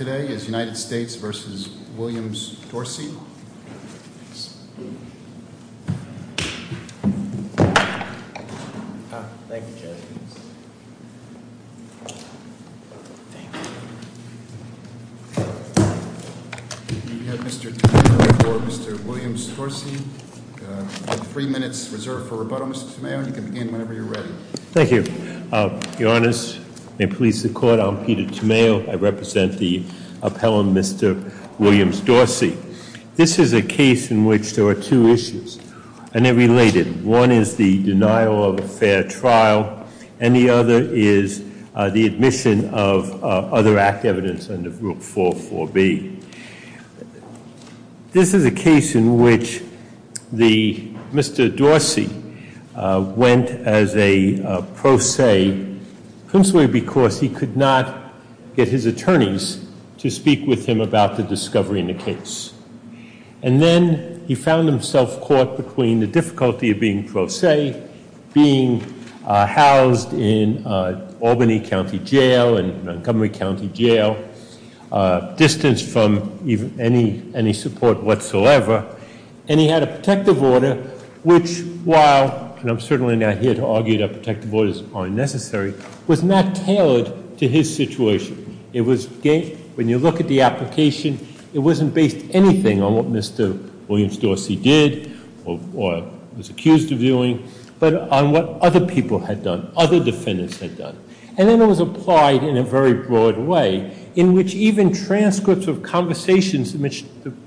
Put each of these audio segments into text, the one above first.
We have Mr. Tomeo before Mr. Williams-Dorsey, you have three minutes reserved for rebuttal. Mr. Tomeo, you can begin whenever you're ready. Thank you. Your Honors, may it please the Court, I'm Peter Tomeo. I represent the appellant, Mr. Williams-Dorsey. This is a case in which there are two issues, and they're related. One is the denial of a fair trial, and the other is the admission of other act evidence under Rule 4.4b. This is a case in which Mr. Dorsey went as a pro se, principally because he could not get his attorneys to speak with him about the discovery in the case. And then he found himself caught between the difficulty of being pro se, being housed in Albany County Jail and Montgomery County Jail, distanced from any support whatsoever. And he had a protective order, which while, and I'm certainly not here to argue that protective orders aren't necessary, was not tailored to his situation. When you look at the application, it wasn't based anything on what Mr. Williams-Dorsey did, or was accused of doing, but on what other people had done, other defendants had done. And then it was applied in a very broad way, in which even transcripts of conversations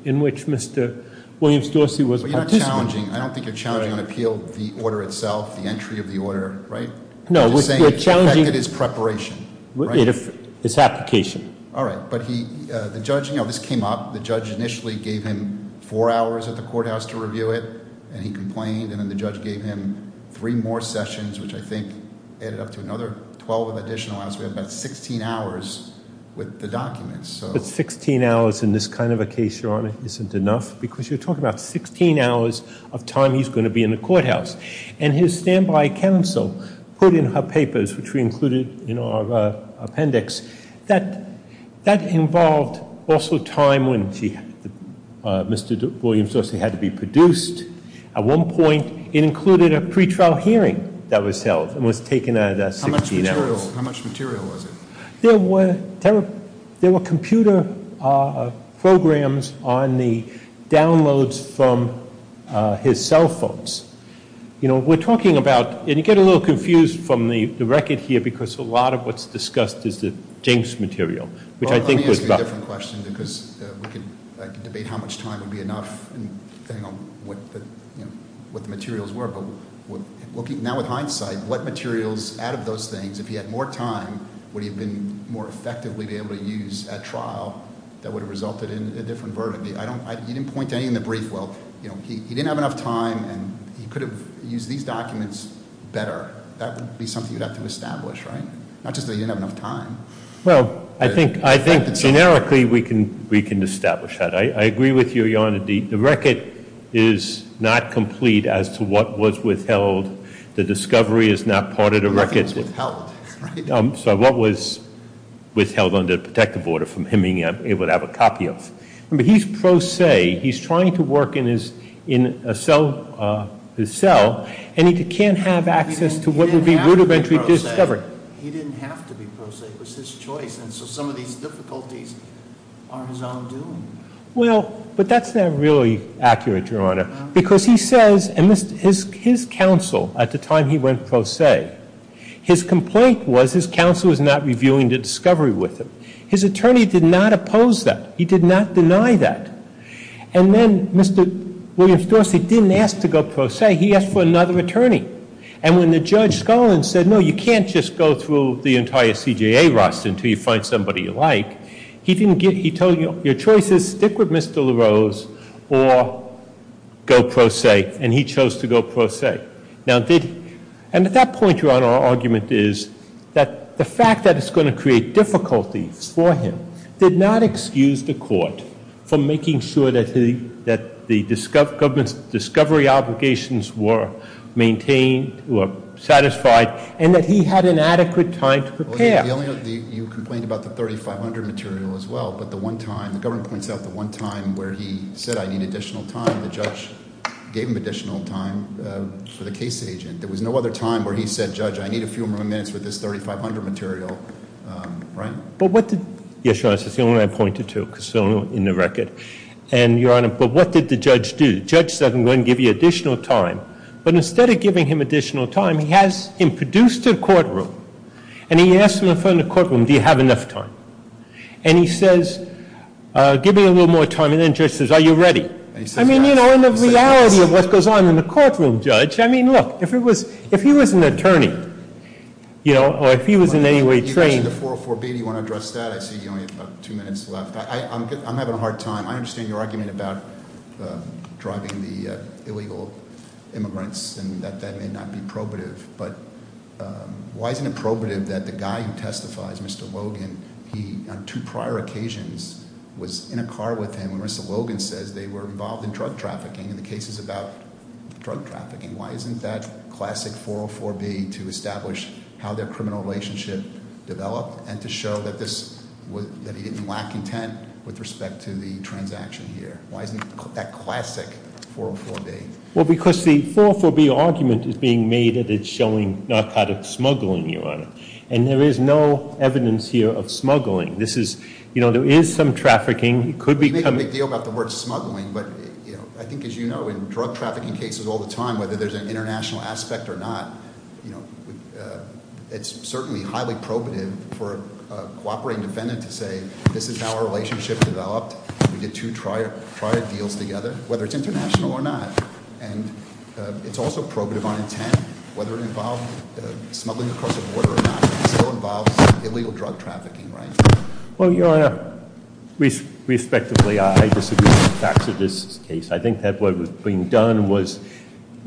in which Mr. Williams-Dorsey was- But you're not challenging, I don't think you're challenging on appeal, the order itself, the entry of the order, right? No, we're challenging- I'm just saying it affected his preparation, right? Its application. All right, but the judge, this came up, the judge initially gave him four hours at the courthouse to review it, and he complained. And then the judge gave him three more sessions, which I think added up to another 12 additional hours. We have about 16 hours with the documents, so- But 16 hours in this kind of a case, Your Honor, isn't enough? Because you're talking about 16 hours of time he's going to be in the courthouse. And his standby counsel put in her papers, which we included in our appendix, that that involved also time when Mr. Williams-Dorsey had to be produced. At one point, it included a pretrial hearing that was held, and was taken out of that 16 hours. How much material was it? There were computer programs on the downloads from his cell phones. You know, we're talking about, and you get a little confused from the record here, because a lot of what's discussed is the James material, which I think was- It's a slightly different question, because I could debate how much time would be enough, depending on what the materials were. But now with hindsight, what materials out of those things, if he had more time, would he have been more effectively be able to use at trial that would have resulted in a different verdict? He didn't point to any in the brief. Well, he didn't have enough time, and he could have used these documents better. That would be something you'd have to establish, right? Not just that he didn't have enough time. Well, I think generically we can establish that. I agree with you, Your Honor. The record is not complete as to what was withheld. The discovery is not part of the record. Nothing was withheld, right? So what was withheld under protective order from him being able to have a copy of. But he's pro se. He's trying to work in his cell, and he can't have access to what would be rudimentary discovery. But he didn't have to be pro se. It was his choice, and so some of these difficulties are his own doing. Well, but that's not really accurate, Your Honor. Because he says, and his counsel at the time he went pro se, his complaint was his counsel was not reviewing the discovery with him. His attorney did not oppose that. He did not deny that. And then Mr. Williams-Dorsey didn't ask to go pro se. He asked for another attorney. And when the Judge Scullin said, no, you can't just go through the entire CJA roster until you find somebody you like, he told you, your choice is stick with Mr. LaRose or go pro se. And he chose to go pro se. And at that point, Your Honor, our argument is that the fact that it's going to create difficulty for him did not excuse the court from making sure that the discovery obligations were maintained, were satisfied, and that he had an adequate time to prepare. You complained about the 3500 material as well, but the one time, the government points out the one time where he said I need additional time, the judge gave him additional time for the case agent. There was no other time where he said, Judge, I need a few more minutes for this 3500 material, right? But what did, yes, Your Honor, that's the only one I pointed to because it's the only one in the record. And, Your Honor, but what did the judge do? The judge said, I'm going to give you additional time. But instead of giving him additional time, he has him produced a courtroom. And he asked him in front of the courtroom, do you have enough time? And he says, give me a little more time. And then the judge says, are you ready? I mean, you know, in the reality of what goes on in the courtroom, Judge, I mean, look, if he was an attorney, you know, or if he was in any way trained- You mentioned the 404B. Do you want to address that? I see you only have about two minutes left. I'm having a hard time. I understand your argument about driving the illegal immigrants and that that may not be probative. But why isn't it probative that the guy who testifies, Mr. Logan, he, on two prior occasions, was in a car with him when Mr. Logan says they were involved in drug trafficking in the cases about drug trafficking. Why isn't that classic 404B to establish how their criminal relationship developed and to show that he didn't lack intent with respect to the transaction here? Why isn't that classic 404B? Well, because the 404B argument is being made that it's showing narcotic smuggling, Your Honor. And there is no evidence here of smuggling. This is, you know, there is some trafficking. It could become- You make a big deal about the word smuggling. But I think, as you know, in drug trafficking cases all the time, whether there's an international aspect or not, it's certainly highly probative for a cooperating defendant to say this is how our relationship developed. We did two prior deals together, whether it's international or not. And it's also probative on intent, whether it involved smuggling across the border or not. It still involves illegal drug trafficking, right? Well, Your Honor, respectively, I disagree with the facts of this case. I think that what was being done was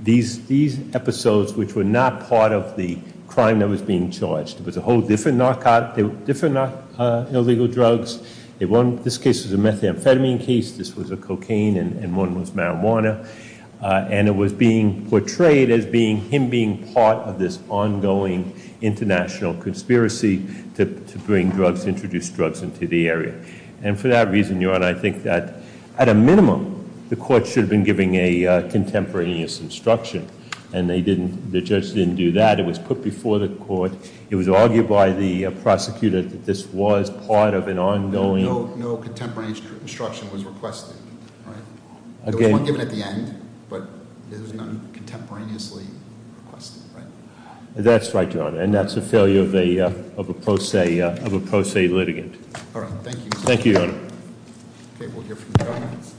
these episodes which were not part of the crime that was being charged. It was a whole different narcotic- different illegal drugs. This case was a methamphetamine case. This was a cocaine. And one was marijuana. And it was being portrayed as being him being part of this ongoing international conspiracy to bring drugs, introduce drugs into the area. And for that reason, Your Honor, I think that, at a minimum, the court should have been giving a contemporaneous instruction. And the judge didn't do that. It was put before the court. It was argued by the prosecutor that this was part of an ongoing- No contemporaneous instruction was requested, right? Okay. It was given at the end, but it was not contemporaneously requested, right? That's right, Your Honor. And that's a failure of a pro se litigant. All right. Thank you. Thank you, Your Honor. Okay. We'll hear from comments.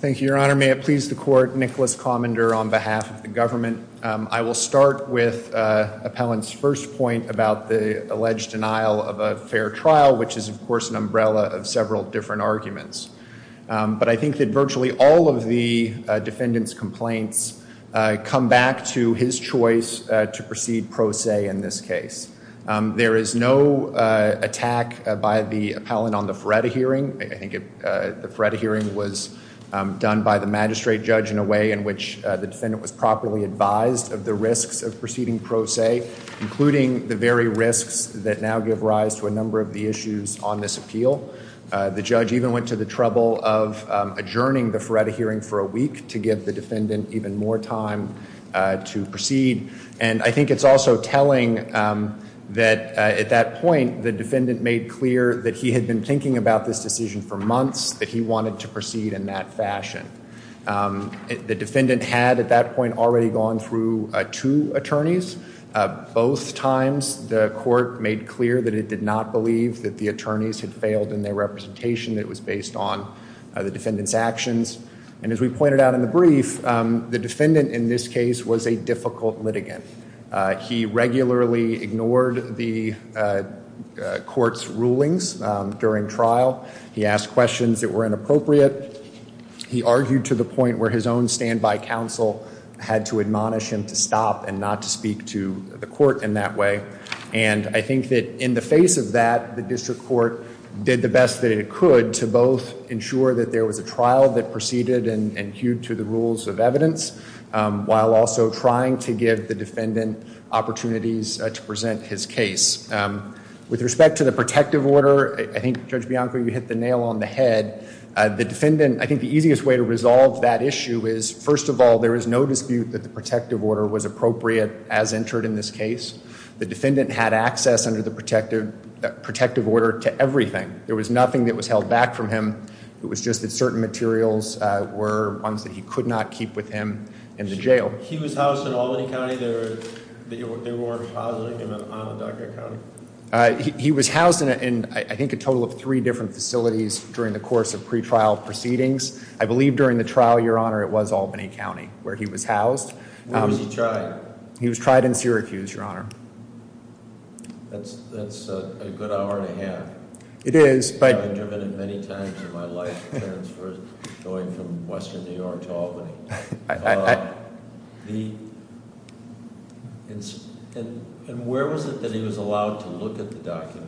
Thank you, Your Honor. May it please the court, Nicholas Commender on behalf of the government. I will start with Appellant's first point about the alleged denial of a fair trial, which is, of course, an umbrella of several different arguments. But I think that virtually all of the defendant's complaints come back to his choice to proceed pro se in this case. There is no attack by the appellant on the Feretta hearing. I think the Feretta hearing was done by the magistrate judge in a way in which the defendant was properly advised of the risks of proceeding pro se, including the very risks that now give rise to a number of the issues on this appeal. The judge even went to the trouble of adjourning the Feretta hearing for a week to give the defendant even more time to proceed. And I think it's also telling that at that point the defendant made clear that he had been thinking about this decision for months, that he wanted to proceed in that fashion. The defendant had at that point already gone through two attorneys. Both times the court made clear that it did not believe that the attorneys had failed in their representation. It was based on the defendant's actions. And as we pointed out in the brief, the defendant in this case was a difficult litigant. He regularly ignored the court's rulings during trial. He asked questions that were inappropriate. He argued to the point where his own standby counsel had to admonish him to stop and not to speak to the court in that way. And I think that in the face of that, the district court did the best that it could to both ensure that there was a trial that proceeded and hewed to the rules of evidence, while also trying to give the defendant opportunities to present his case. With respect to the protective order, I think Judge Bianco, you hit the nail on the head. The defendant, I think the easiest way to resolve that issue is, first of all, there is no dispute that the protective order was appropriate as entered in this case. The defendant had access under the protective order to everything. There was nothing that was held back from him. It was just that certain materials were ones that he could not keep with him in the jail. He was housed in Albany County? They weren't housing him in Onondaga County? He was housed in, I think, a total of three different facilities during the course of pretrial proceedings. I believe during the trial, Your Honor, it was Albany County where he was housed. Where was he tried? He was tried in Syracuse, Your Honor. That's a good hour and a half. It is, but I've been driven in many times in my life, transferred, going from western New York to Albany. And where was it that he was allowed to look at the documents?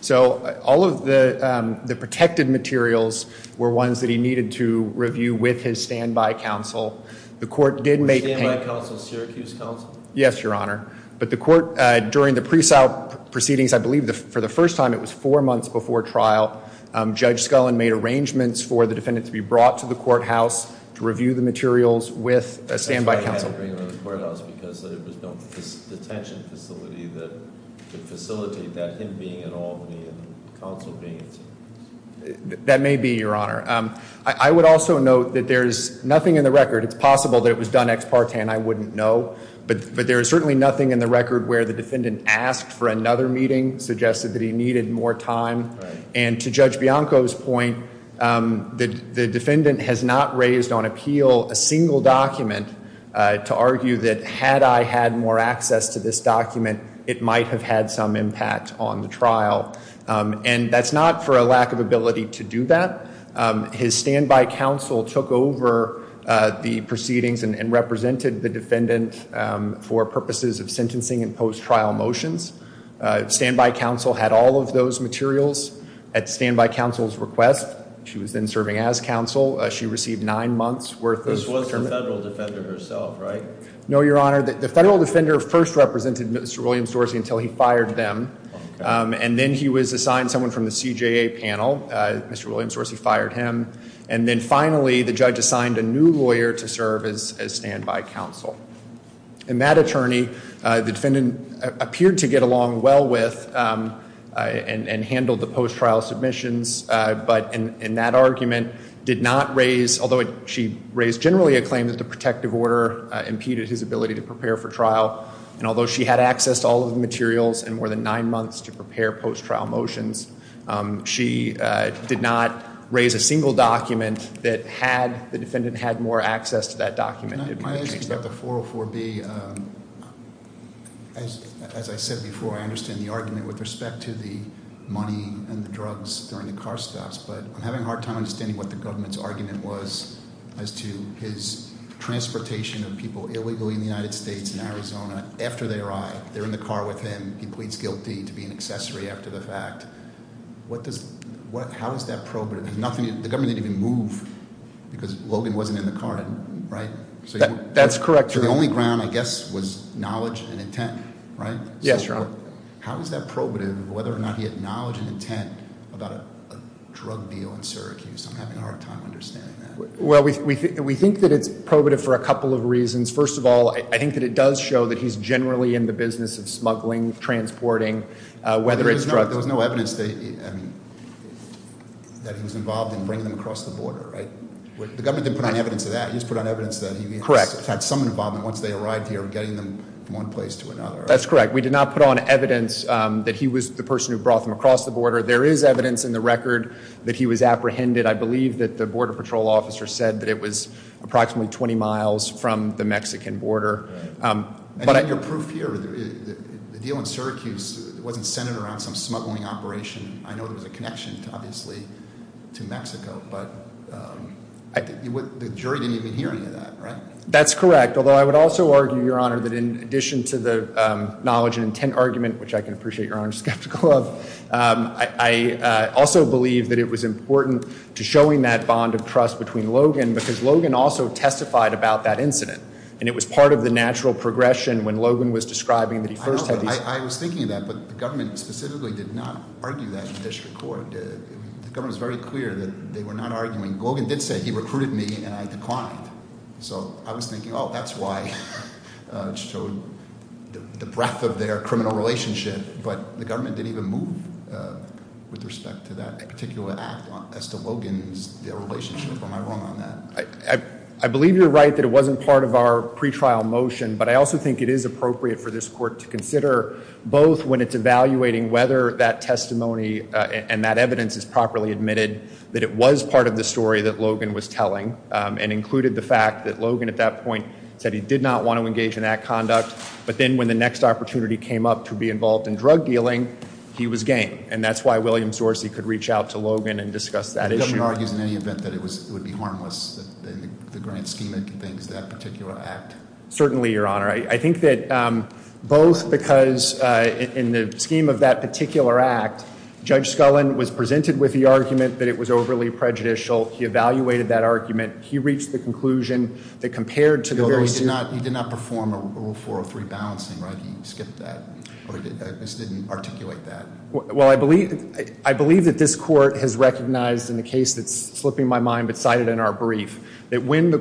So all of the protected materials were ones that he needed to review with his standby counsel. The court did make payments. Standby counsel, Syracuse counsel? Yes, Your Honor. But the court, during the presal proceedings, I believe for the first time, it was four months before trial, Judge Scullin made arrangements for the defendant to be brought to the courthouse to review the materials with a standby counsel. Because there was no detention facility that could facilitate that, him being in Albany and counsel being in Syracuse? That may be, Your Honor. I would also note that there is nothing in the record, it's possible that it was done ex partem, I wouldn't know. But there is certainly nothing in the record where the defendant asked for another meeting, suggested that he needed more time, and to Judge Bianco's point, the defendant has not raised on appeal a single document to argue that had I had more access to this document, it might have had some impact on the trial. And that's not for a lack of ability to do that. His standby counsel took over the proceedings and represented the defendant for purposes of sentencing and post-trial motions. Standby counsel had all of those materials at standby counsel's request. She was then serving as counsel. She received nine months worth of... This was the federal defender herself, right? No, Your Honor. The federal defender first represented Mr. Williams-Dorsey until he fired them. And then he was assigned someone from the CJA panel. Mr. Williams-Dorsey fired him. And then finally, the judge assigned a new lawyer to serve as standby counsel. And that attorney, the defendant appeared to get along well with and handled the post-trial submissions, but in that argument did not raise, although she raised generally a claim that the protective order impeded his ability to prepare for trial. And although she had access to all of the materials and more than nine months to prepare post-trial motions, she did not raise a single document that had the defendant had more access to that document. Can I ask you about the 404B? As I said before, I understand the argument with respect to the money and the drugs during the car stops, but I'm having a hard time understanding what the government's argument was as to his transportation of people illegally in the United States and Arizona after they arrived. They're in the car with him. He pleads guilty to being an accessory after the fact. How is that probative? The government didn't even move because Logan wasn't in the car, right? That's correct, Your Honor. The only ground, I guess, was knowledge and intent, right? Yes, Your Honor. How is that probative, whether or not he had knowledge and intent about a drug deal in Syracuse? I'm having a hard time understanding that. Well, we think that it's probative for a couple of reasons. First of all, I think that it does show that he's generally in the business of smuggling, transporting, whether it's drugs. There was no evidence that he was involved in bringing them across the border, right? The government didn't put on evidence of that. He just put on evidence that he had some involvement once they arrived here, getting them from one place to another. That's correct. We did not put on evidence that he was the person who brought them across the border. There is evidence in the record that he was apprehended. I believe that the Border Patrol officer said that it was approximately 20 miles from the Mexican border. And in your proof here, the deal in Syracuse wasn't centered around some smuggling operation. I know there was a connection, obviously, to Mexico, but the jury didn't even hear any of that, right? That's correct, although I would also argue, Your Honor, that in addition to the knowledge and intent argument, which I can appreciate Your Honor is skeptical of, I also believe that it was important to showing that bond of trust between Logan because Logan also testified about that incident. And it was part of the natural progression when Logan was describing that he first had these- I was thinking of that, but the government specifically did not argue that in district court. The government was very clear that they were not arguing. Logan did say he recruited me, and I declined. So I was thinking, oh, that's why it showed the breadth of their criminal relationship. But the government didn't even move with respect to that particular act as to Logan's relationship. Am I wrong on that? I believe you're right that it wasn't part of our pretrial motion, but I also think it is appropriate for this court to consider both when it's evaluating whether that testimony and that evidence is properly admitted that it was part of the story that Logan was telling and included the fact that Logan at that point said he did not want to engage in that conduct. But then when the next opportunity came up to be involved in drug dealing, he was game. And that's why William Sorcey could reach out to Logan and discuss that issue. The government argues in any event that it would be harmless in the grand scheme of things, that particular act? Certainly, Your Honor. I think that both because in the scheme of that particular act, Judge Scullin was presented with the argument that it was overly prejudicial. He evaluated that argument. He reached the conclusion that compared to the very- Although he did not perform a Rule 403 balancing, right? He skipped that or just didn't articulate that. Well, I believe that this court has recognized in the case that's slipping my mind but cited in our brief that when the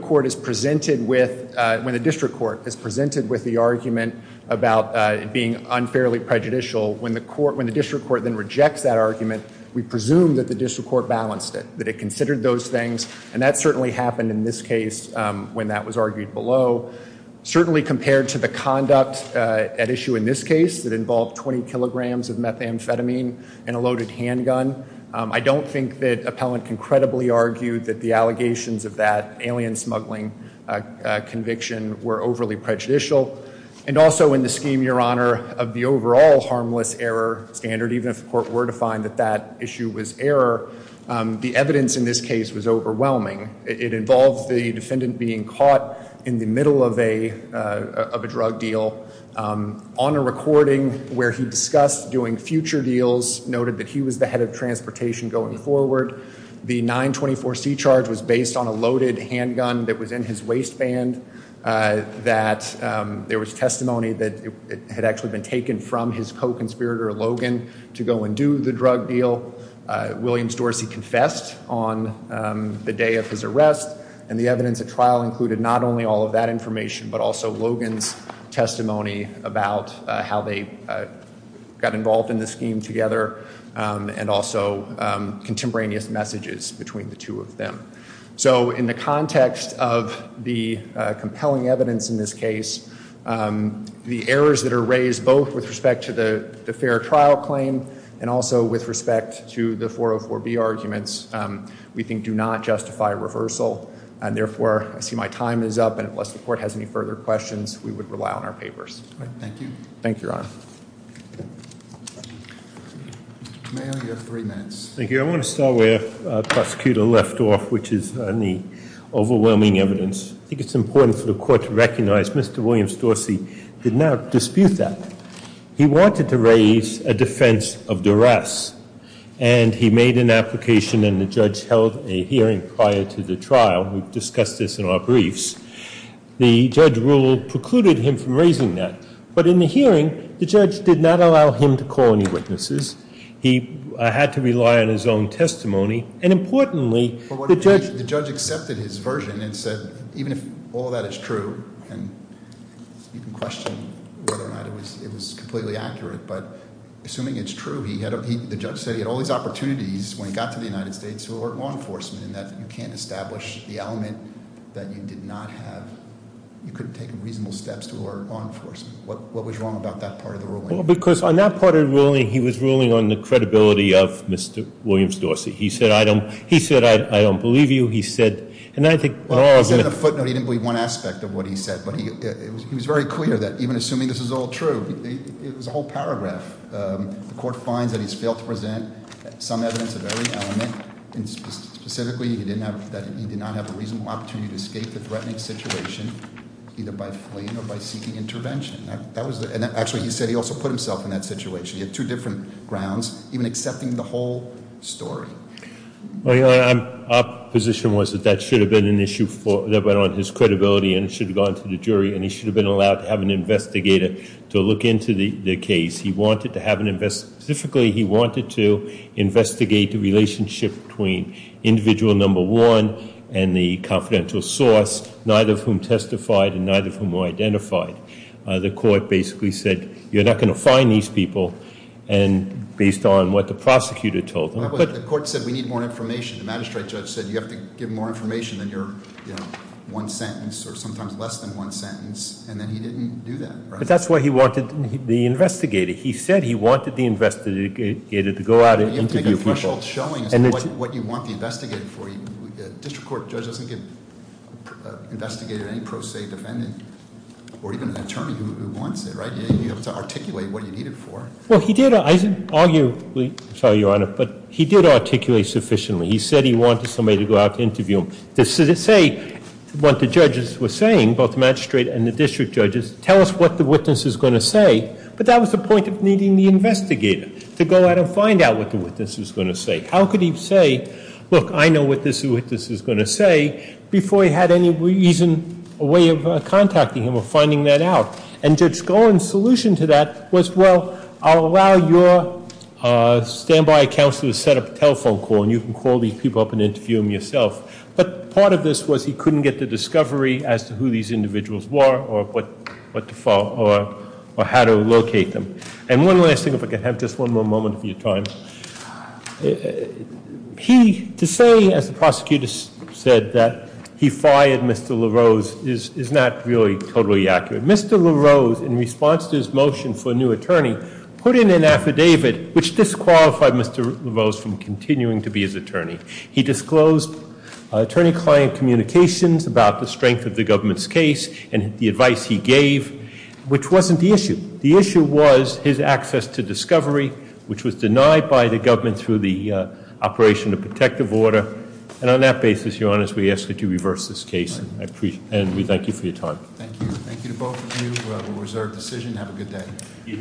district court is presented with the argument about it being unfairly prejudicial, when the district court then rejects that argument, we presume that the district court balanced it, that it considered those things. And that certainly happened in this case when that was argued below. Certainly compared to the conduct at issue in this case that involved 20 kilograms of methamphetamine and a loaded handgun, I don't think that appellant can credibly argue that the allegations of that alien smuggling conviction were overly prejudicial. And also in the scheme, Your Honor, of the overall harmless error standard, even if the court were to find that that issue was error, the evidence in this case was overwhelming. It involves the defendant being caught in the middle of a drug deal. On a recording where he discussed doing future deals, noted that he was the head of transportation going forward. The 924C charge was based on a loaded handgun that was in his waistband, that there was testimony that it had actually been taken from his co-conspirator, Logan, to go and do the drug deal. Williams-Dorsey confessed on the day of his arrest. And the evidence at trial included not only all of that information, but also Logan's testimony about how they got involved in the scheme together, and also contemporaneous messages between the two of them. So in the context of the compelling evidence in this case, the errors that are raised, both with respect to the fair trial claim, and also with respect to the 404B arguments, we think do not justify reversal. And therefore, I see my time is up. And unless the court has any further questions, we would rely on our papers. Thank you. Thank you, Your Honor. Thank you. I want to start where the prosecutor left off, which is on the overwhelming evidence. I think it's important for the court to recognize Mr. Williams-Dorsey did not dispute that. He wanted to raise a defense of duress. And he made an application, and the judge held a hearing prior to the trial. We've discussed this in our briefs. The judge rule precluded him from raising that. But in the hearing, the judge did not allow him to call any witnesses. He had to rely on his own testimony. And importantly, the judge accepted his version and said, even if all that is true, and you can question whether or not it was completely accurate, but assuming it's true, the judge said he had all these opportunities when he got to the United States to alert law enforcement in that you can't establish the element that you did not have. You couldn't take reasonable steps to alert law enforcement. What was wrong about that part of the ruling? Because on that part of the ruling, he was ruling on the credibility of Mr. Williams-Dorsey. He said, I don't believe you. He said, and I think- On a footnote, he didn't believe one aspect of what he said. But he was very clear that even assuming this is all true, it was a whole paragraph. The court finds that he's failed to present some evidence of every element. And specifically, he did not have a reasonable opportunity to escape the threatening situation, either by fleeing or by seeking intervention. And actually, he said he also put himself in that situation. He had two different grounds, even accepting the whole story. Our position was that that should have been an issue on his credibility, and it should have gone to the jury, and he should have been allowed to have an investigator to look into the case. Specifically, he wanted to investigate the relationship between individual number one and the confidential source, neither of whom testified and neither of whom were identified. The court basically said, you're not going to find these people based on what the prosecutor told them. The court said, we need more information. The magistrate judge said, you have to give more information than your one sentence or sometimes less than one sentence. And then he didn't do that. But that's why he wanted the investigator. He said he wanted the investigator to go out and interview people. You have to make a threshold showing what you want the investigator for. The district court judge doesn't give an investigator any pro se defendant or even an attorney who wants it, right? You have to articulate what you need it for. Well, he did, arguably. I'm sorry, Your Honor. But he did articulate sufficiently. He said he wanted somebody to go out and interview him. To say what the judges were saying, both the magistrate and the district judges, tell us what the witness is going to say. But that was the point of needing the investigator, to go out and find out what the witness was going to say. How could he say, look, I know what this witness is going to say, before he had any reason, a way of contacting him or finding that out. And Judge Cohen's solution to that was, well, I'll allow your standby counsel to set up a telephone call. And you can call these people up and interview them yourself. But part of this was he couldn't get the discovery as to who these individuals were or how to locate them. And one last thing, if I could have just one more moment of your time. To say, as the prosecutor said, that he fired Mr. LaRose is not really totally accurate. Mr. LaRose, in response to his motion for a new attorney, put in an affidavit which disqualified Mr. LaRose from continuing to be his attorney. He disclosed attorney-client communications about the strength of the government's case and the advice he gave, which wasn't the issue. The issue was his access to discovery, which was denied by the government through the operation of protective order. And on that basis, your honors, we ask that you reverse this case. And we thank you for your time. Thank you. Thank you to both of you who have a reserved decision. Have a good day.